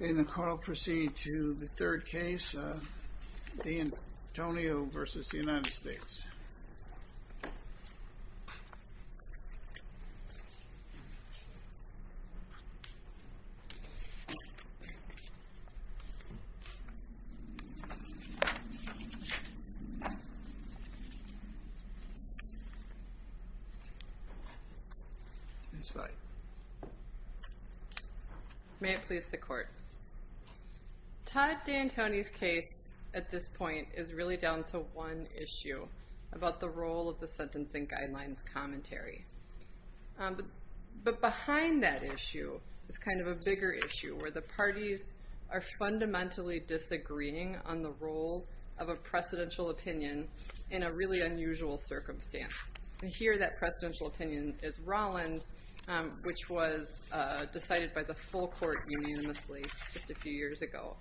And the court will proceed to the third case D'Antonio v. United States May it please the court. Todd D'Antoni's case at this point is really down to one issue about the role of the sentencing guidelines commentary. But behind that issue is kind of a bigger issue where the parties are fundamentally disagreeing on the role of a precedential opinion in a really unusual circumstance. And here that precedential opinion is Rollins, which was decided by the full court unanimously just a few years ago.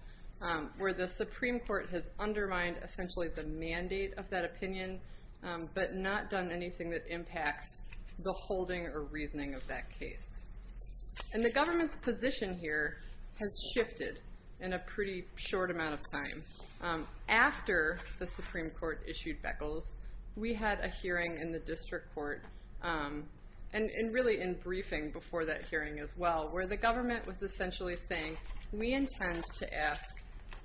Where the Supreme Court has undermined essentially the mandate of that opinion, but not done anything that impacts the holding or reasoning of that case. And the government's position here has shifted in a pretty short amount of time. After the Supreme Court issued Beckles, we had a hearing in the district court, and really in briefing before that hearing as well, where the government was essentially saying, we intend to ask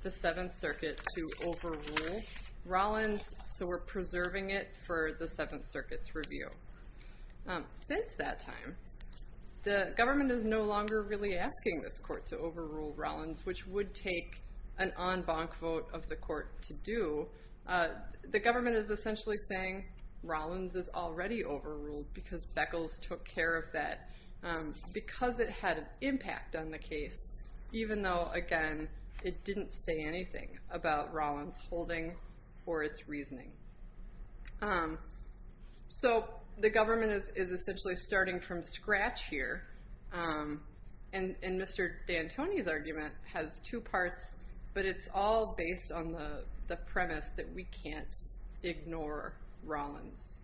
the Seventh Circuit to overrule Rollins, so we're preserving it for the Seventh Circuit's review. Since that time, the government is no longer really asking this court to overrule Rollins, which would take an en banc vote of the court to do. The government is essentially saying Rollins is already overruled because Beckles took care of that because it had an impact on the case, even though, again, it didn't say anything about Rollins' holding or its reasoning. So the government is essentially starting from scratch here. And Mr. D'Antoni's argument has two parts, but it's all based on the premise that we can't ignore Rollins.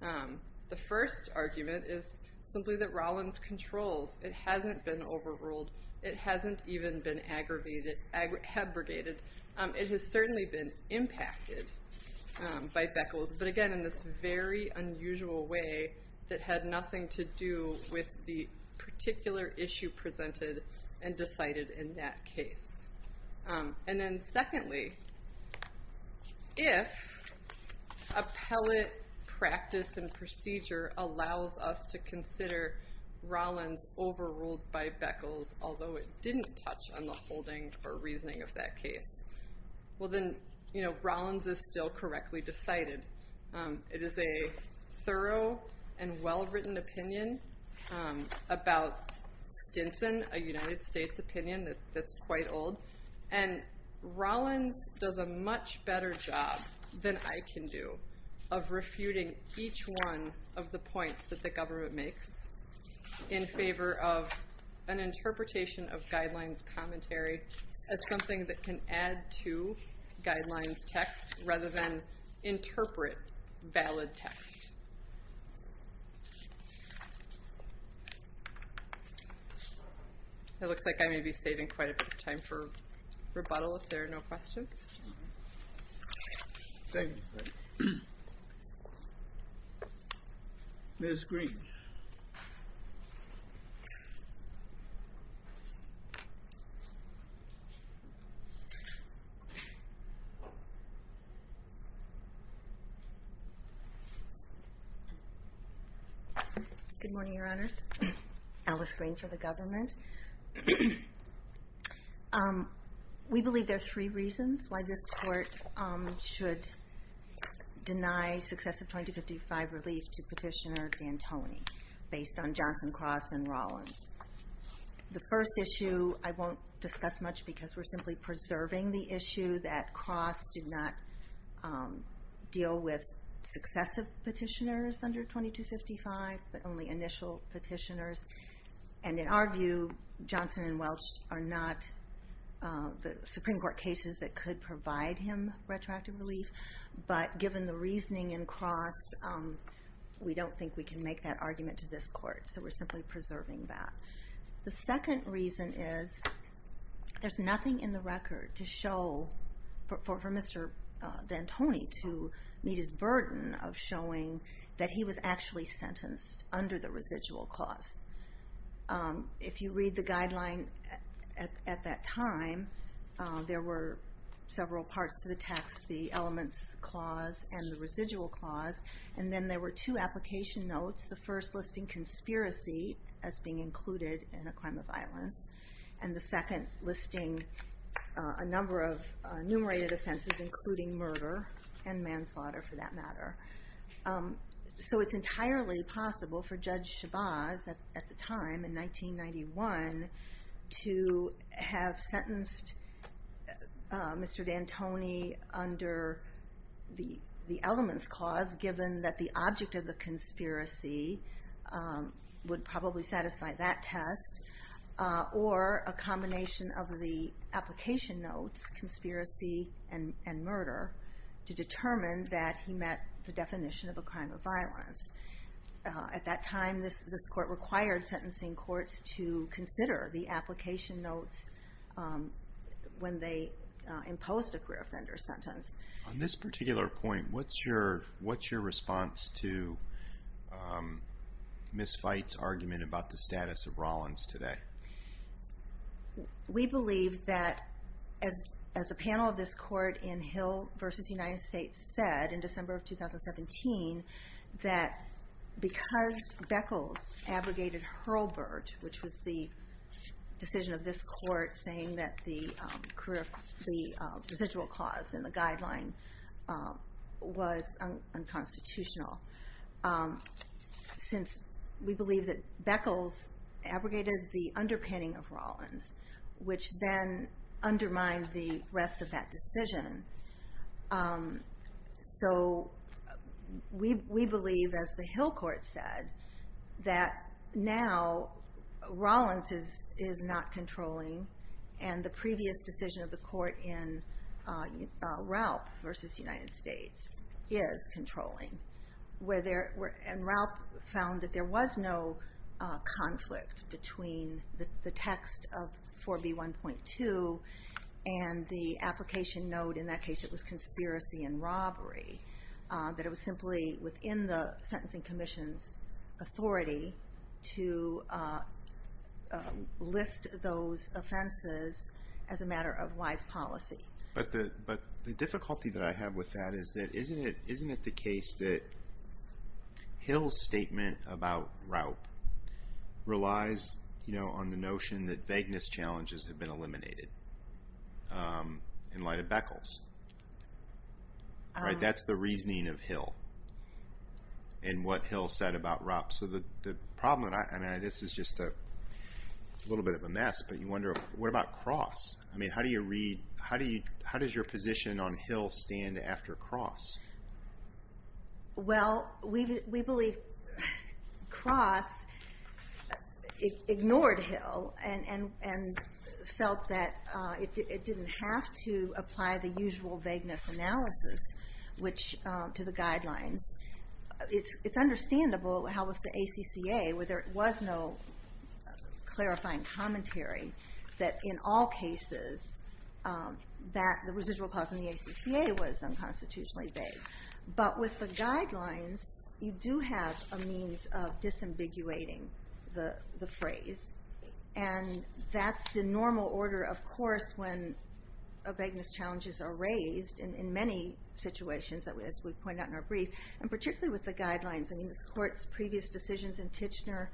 The first argument is simply that Rollins controls. It hasn't been overruled. It hasn't even been abrogated. It has certainly been impacted by Beckles, but again, in this very unusual way that had nothing to do with the particular issue presented and decided in that case. And then secondly, if appellate practice and procedure allows us to consider Rollins overruled by Beckles, although it didn't touch on the holding or reasoning of that case, well, then Rollins is still correctly decided. It is a thorough and well-written opinion about Stinson, a United States opinion that's quite old. And Rollins does a much better job than I can do of refuting each one of the points that the government makes in favor of an interpretation of guidelines commentary as something that can add to guidelines text rather than interpret valid text. It looks like I may be saving quite a bit of time for rebuttal if there are no questions. Ms. Green. Good morning, your honors. My name is Alice Green for the government. We believe there are three reasons why this court should deny successive 2255 relief to petitioner D'Antoni based on Johnson, Cross, and Rollins. The first issue I won't discuss much because we're simply preserving the issue that Cross did not deal with successive petitioners under 2255, but only initial petitioners. And in our view, Johnson and Welch are not the Supreme Court cases that could provide him retroactive relief, but given the reasoning in Cross, we don't think we can make that argument to this court. So we're simply preserving that. The second reason is there's nothing in the record to show for Mr. D'Antoni to meet his burden of showing that he was actually sentenced under the residual clause. If you read the guideline at that time, there were several parts to the text, the elements clause and the residual clause, and then there were two application notes. The first listing conspiracy as being included in a crime of violence, and the second listing a number of enumerated offenses including murder and manslaughter for that matter. So it's entirely possible for Judge Chabaz at the time in 1991 to have sentenced Mr. D'Antoni under the elements clause given that the object of the conspiracy would probably satisfy that test, or a combination of the application notes, conspiracy and murder, to determine that he met the definition of a crime of violence. At that time, this court required sentencing courts to consider the application notes when they imposed a career offender sentence. On this particular point, what's your response to Ms. Veit's argument about the status of Rollins today? We believe that, as a panel of this court in Hill v. United States said in December of 2017, that because Beckles abrogated Hurlburt, which was the decision of this court saying that the residual clause in the guideline was unconstitutional, since we believe that Beckles abrogated the underpinning of Rollins, which then undermined the rest of that decision. So we believe, as the Hill court said, that now Rollins is not controlling, and the previous decision of the court in Raup v. United States is controlling. And Raup found that there was no conflict between the text of 4B1.2 and the application note. In that case, it was conspiracy and robbery, that it was simply within the sentencing commission's authority to list those offenses as a matter of wise policy. But the difficulty that I have with that is that isn't it the case that Hill's statement about Raup relies on the notion that vagueness challenges have been eliminated in light of Beckles? That's the reasoning of Hill and what Hill said about Raup. So the problem, and this is just a little bit of a mess, but you wonder, what about Cross? I mean, how does your position on Hill stand after Cross? Well, we believe Cross ignored Hill and felt that it didn't have to apply the usual vagueness analysis to the guidelines. It's understandable how with the ACCA, where there was no clarifying commentary, that in all cases the residual clause in the ACCA was unconstitutionally vague. But with the guidelines, you do have a means of disambiguating the phrase. And that's the normal order, of course, when vagueness challenges are raised in many situations, as we've pointed out in our brief, and particularly with the guidelines. I mean, this Court's previous decisions in Titchener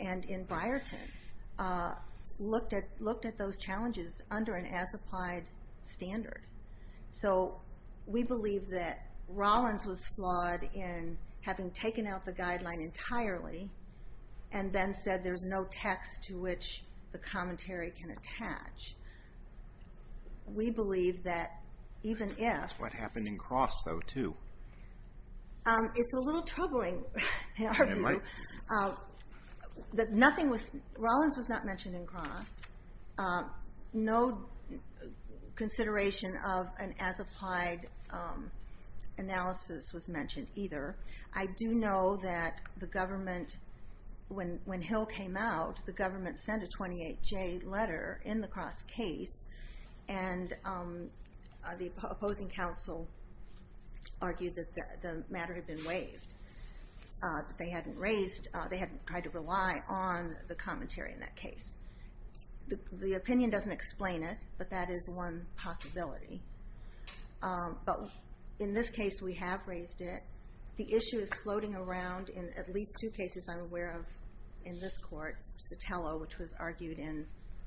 and in Byerton looked at those challenges under an as-applied standard. So we believe that Rollins was flawed in having taken out the guideline entirely and then said there's no text to which the commentary can attach. We believe that even if... That's what happened in Cross, though, too. It's a little troubling in our view. It might be. That nothing was, Rollins was not mentioned in Cross. No consideration of an as-applied analysis was mentioned either. I do know that the government, when Hill came out, the government sent a 28J letter in the Cross case, and the opposing counsel argued that the matter had been waived. They hadn't raised... they hadn't tried to rely on the commentary in that case. The opinion doesn't explain it, but that is one possibility. But in this case, we have raised it. The issue is floating around in at least two cases I'm aware of in this Court, Sotelo, which was argued in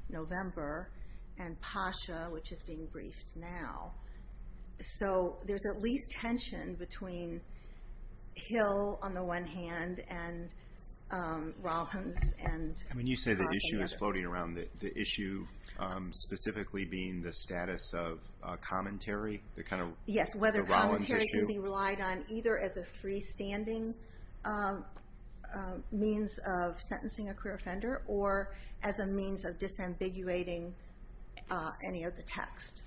November, and Pasha, which is being briefed now. So there's at least tension between Hill, on the one hand, and Rollins and Cross. You say the issue is floating around, the issue specifically being the status of commentary, the Rollins issue. Yes, whether commentary can be relied on either as a freestanding means of sentencing a career offender or as a means of disambiguating any of the text,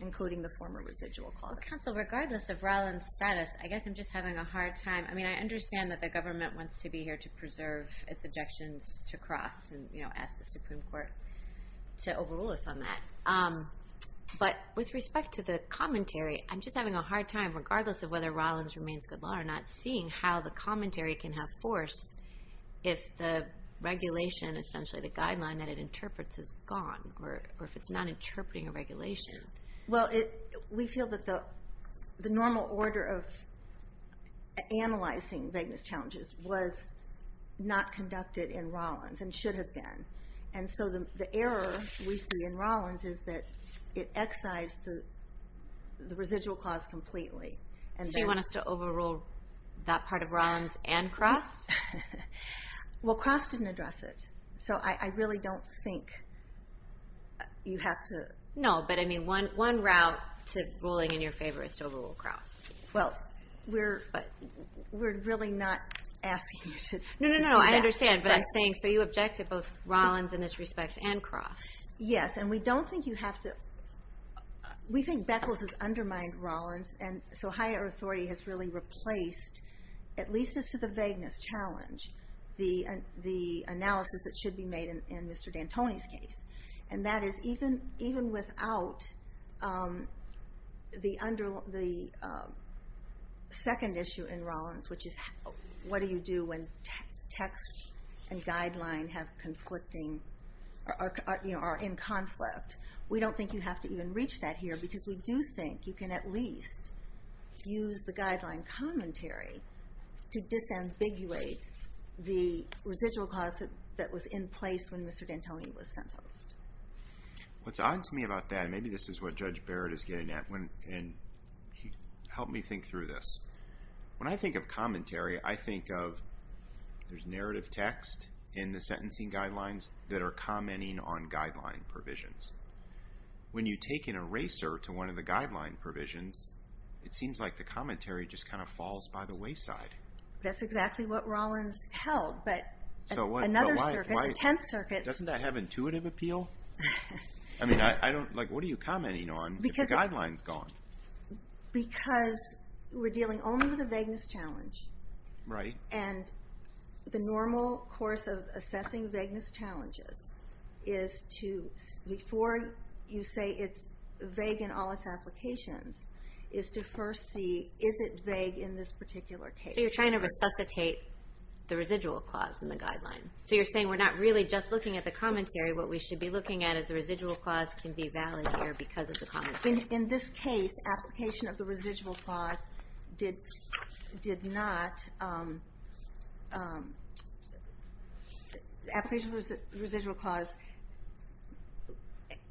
including the former residual clause. Counsel, regardless of Rollins' status, I guess I'm just having a hard time. I understand that the government wants to be here to preserve its objections to Cross and ask the Supreme Court to overrule us on that. But with respect to the commentary, I'm just having a hard time, regardless of whether Rollins remains good law or not, seeing how the commentary can have force if the regulation, essentially the guideline that it interprets, is gone, or if it's not interpreting a regulation. Well, we feel that the normal order of analyzing vagueness challenges was not conducted in Rollins, and should have been. And so the error we see in Rollins is that it excised the residual clause completely. So you want us to overrule that part of Rollins and Cross? Well, Cross didn't address it. So I really don't think you have to... No, but I mean one route to ruling in your favor is to overrule Cross. Well, we're really not asking you to do that. No, no, no, I understand, but I'm saying, so you object to both Rollins in this respect and Cross? Yes, and we don't think you have to... We think Beckles has undermined Rollins, and so higher authority has really replaced, at least as to the vagueness challenge, the analysis that should be made in Mr. D'Antoni's case. And that is, even without the second issue in Rollins, which is what do you do when text and guideline are in conflict, we don't think you have to even reach that here, because we do think you can at least use the guideline commentary to disambiguate the residual cause that was in place when Mr. D'Antoni was sentenced. What's odd to me about that, and maybe this is what Judge Barrett is getting at, and help me think through this. When I think of commentary, I think of there's narrative text in the sentencing guidelines that are commenting on guideline provisions. When you take an eraser to one of the guideline provisions, it seems like the commentary just kind of falls by the wayside. That's exactly what Rollins held, but another circuit, the Tenth Circuit... Doesn't that have intuitive appeal? I mean, what are you commenting on if the guideline's gone? Because we're dealing only with a vagueness challenge. Right. And the normal course of assessing vagueness challenges is to, before you say it's vague in all its applications, is to first see, is it vague in this particular case? So you're trying to resuscitate the residual clause in the guideline. So you're saying we're not really just looking at the commentary. What we should be looking at is the residual clause can be valid here because of the commentary. In this case, application of the residual clause did not... Application of the residual clause,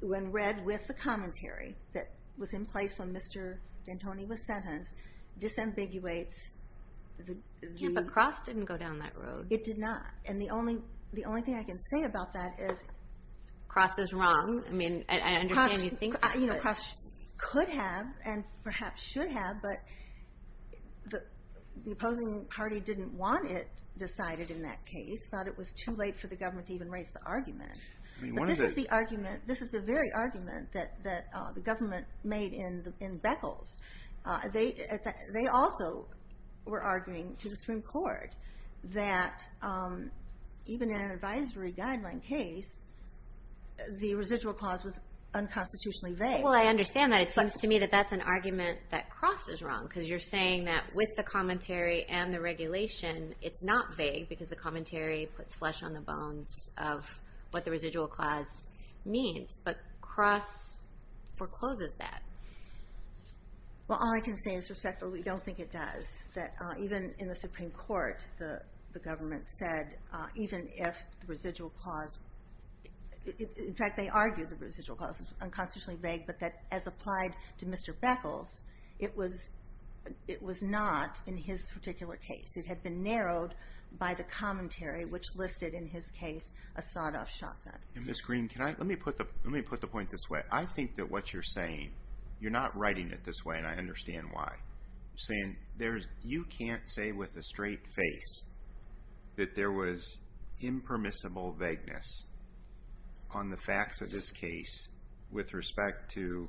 when read with the commentary that was in place when Mr. D'Antoni was sentenced, disambiguates the... Yeah, but Cross didn't go down that road. It did not. And the only thing I can say about that is... Cross is wrong. I mean, I understand you think that, but... Cross could have and perhaps should have, but the opposing party didn't want it decided in that case, thought it was too late for the government to even raise the argument. But this is the argument, this is the very argument that the government made in Beckles. They also were arguing to the Supreme Court that even in an advisory guideline case, the residual clause was unconstitutionally vague. Well, I understand that. It seems to me that that's an argument that Cross is wrong because you're saying that with the commentary and the regulation, it's not vague because the commentary puts flesh on the bones of what the residual clause means. But Cross forecloses that. Well, all I can say is, or we don't think it does, that even in the Supreme Court, the government said, even if the residual clause... In fact, they argued the residual clause is unconstitutionally vague, but that as applied to Mr. Beckles, it was not in his particular case. It had been narrowed by the commentary, which listed in his case a sawed-off shotgun. Ms. Green, let me put the point this way. I think that what you're saying, you're not writing it this way, and I understand why. You're saying you can't say with a straight face that there was impermissible vagueness on the facts of this case with respect to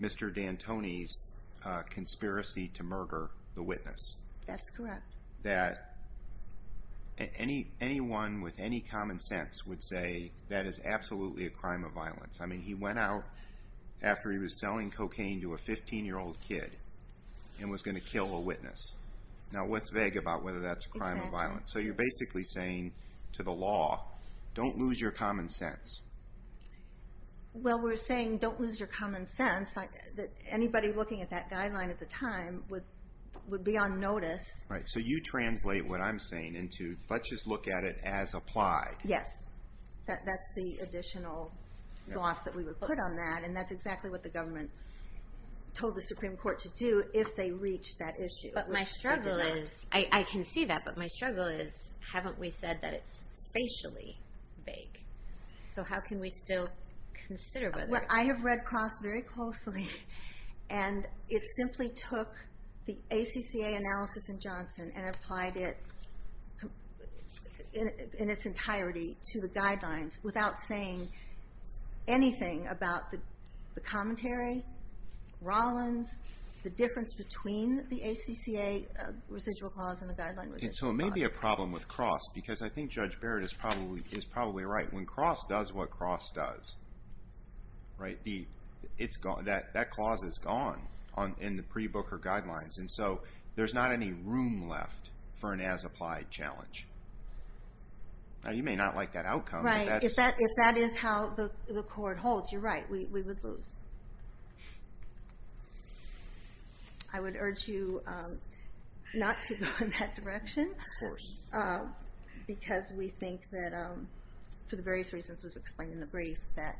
Mr. D'Antoni's conspiracy to murder the witness. That's correct. That anyone with any common sense would say that is absolutely a crime of violence. I mean, he went out after he was selling cocaine to a 15-year-old kid and was going to kill a witness. Now, what's vague about whether that's a crime of violence? Exactly. So you're basically saying to the law, don't lose your common sense. Well, we're saying don't lose your common sense. Anybody looking at that guideline at the time would be on notice. So you translate what I'm saying into let's just look at it as applied. Yes. That's the additional gloss that we would put on that, and that's exactly what the government told the Supreme Court to do if they reached that issue. But my struggle is, I can see that, but my struggle is, haven't we said that it's facially vague? So how can we still consider whether it's vague? I have read Cross very closely, and it simply took the ACCA analysis in Johnson and applied it in its entirety to the guidelines without saying anything about the commentary, Rollins, the difference between the ACCA residual clause and the guideline residual clause. And so it may be a problem with Cross, because I think Judge Barrett is probably right. When Cross does what Cross does, that clause is gone in the pre-Booker guidelines, and so there's not any room left for an as-applied challenge. Now, you may not like that outcome. Right. If that is how the court holds, you're right. We would lose. I would urge you not to go in that direction. Of course. Because we think that, for the various reasons we've explained in the brief, that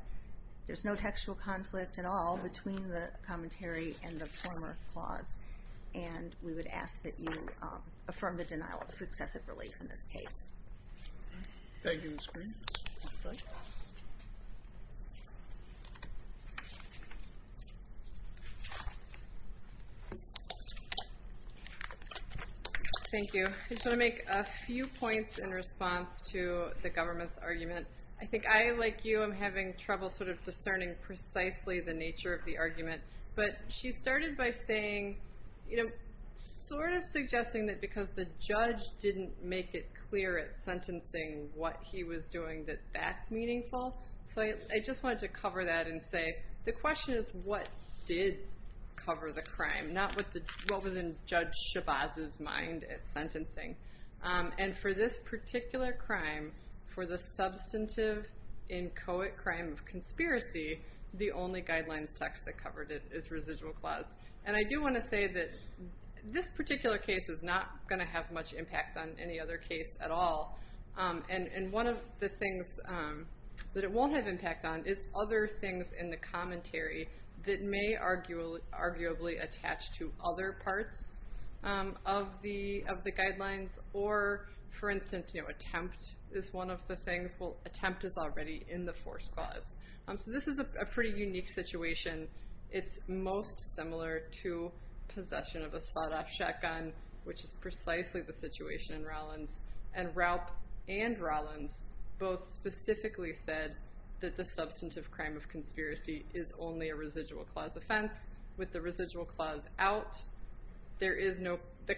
there's no textual conflict at all between the commentary and the former clause, and we would ask that you affirm the denial of successive relief in this case. Thank you, Ms. Green. Thank you. Thank you. I just want to make a few points in response to the government's argument. I think I, like you, am having trouble sort of discerning precisely the nature of the argument. But she started by saying, sort of suggesting that because the judge didn't make it clear at sentencing what he was doing that that's meaningful. So I just wanted to cover that and say, the question is what did cover the crime, not what was in Judge Shabazz's mind at sentencing. And for this particular crime, for the substantive, inchoate crime of conspiracy, the only guidelines text that covered it is residual clause. And I do want to say that this particular case is not going to have much impact on any other case at all. And one of the things that it won't have impact on is other things in the commentary that may arguably attach to other parts of the guidelines. Or, for instance, attempt is one of the things. Well, attempt is already in the first clause. So this is a pretty unique situation. It's most similar to possession of a sawed-off shotgun, which is precisely the situation in Rollins. And Raup and Rollins both specifically said that the substantive crime of conspiracy is only a residual clause offense. With the residual clause out, the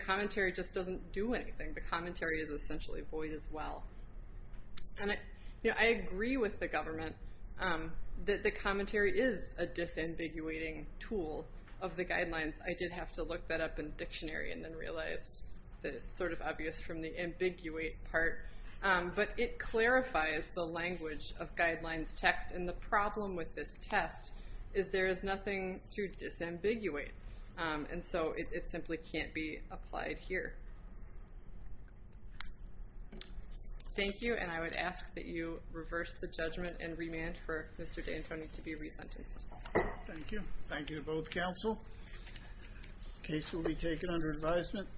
commentary just doesn't do anything. The commentary is essentially void as well. And I agree with the government that the commentary is a disambiguating tool of the guidelines. I did have to look that up in the dictionary and then realized that it's sort of obvious from the ambiguate part. But it clarifies the language of guidelines text. And the problem with this test is there is nothing to disambiguate. And so it simply can't be applied here. Thank you, and I would ask that you reverse the judgment and remand for Mr. D'Antoni to be resentenced. Thank you. Thank you to both counsel. Case will be taken under advisement.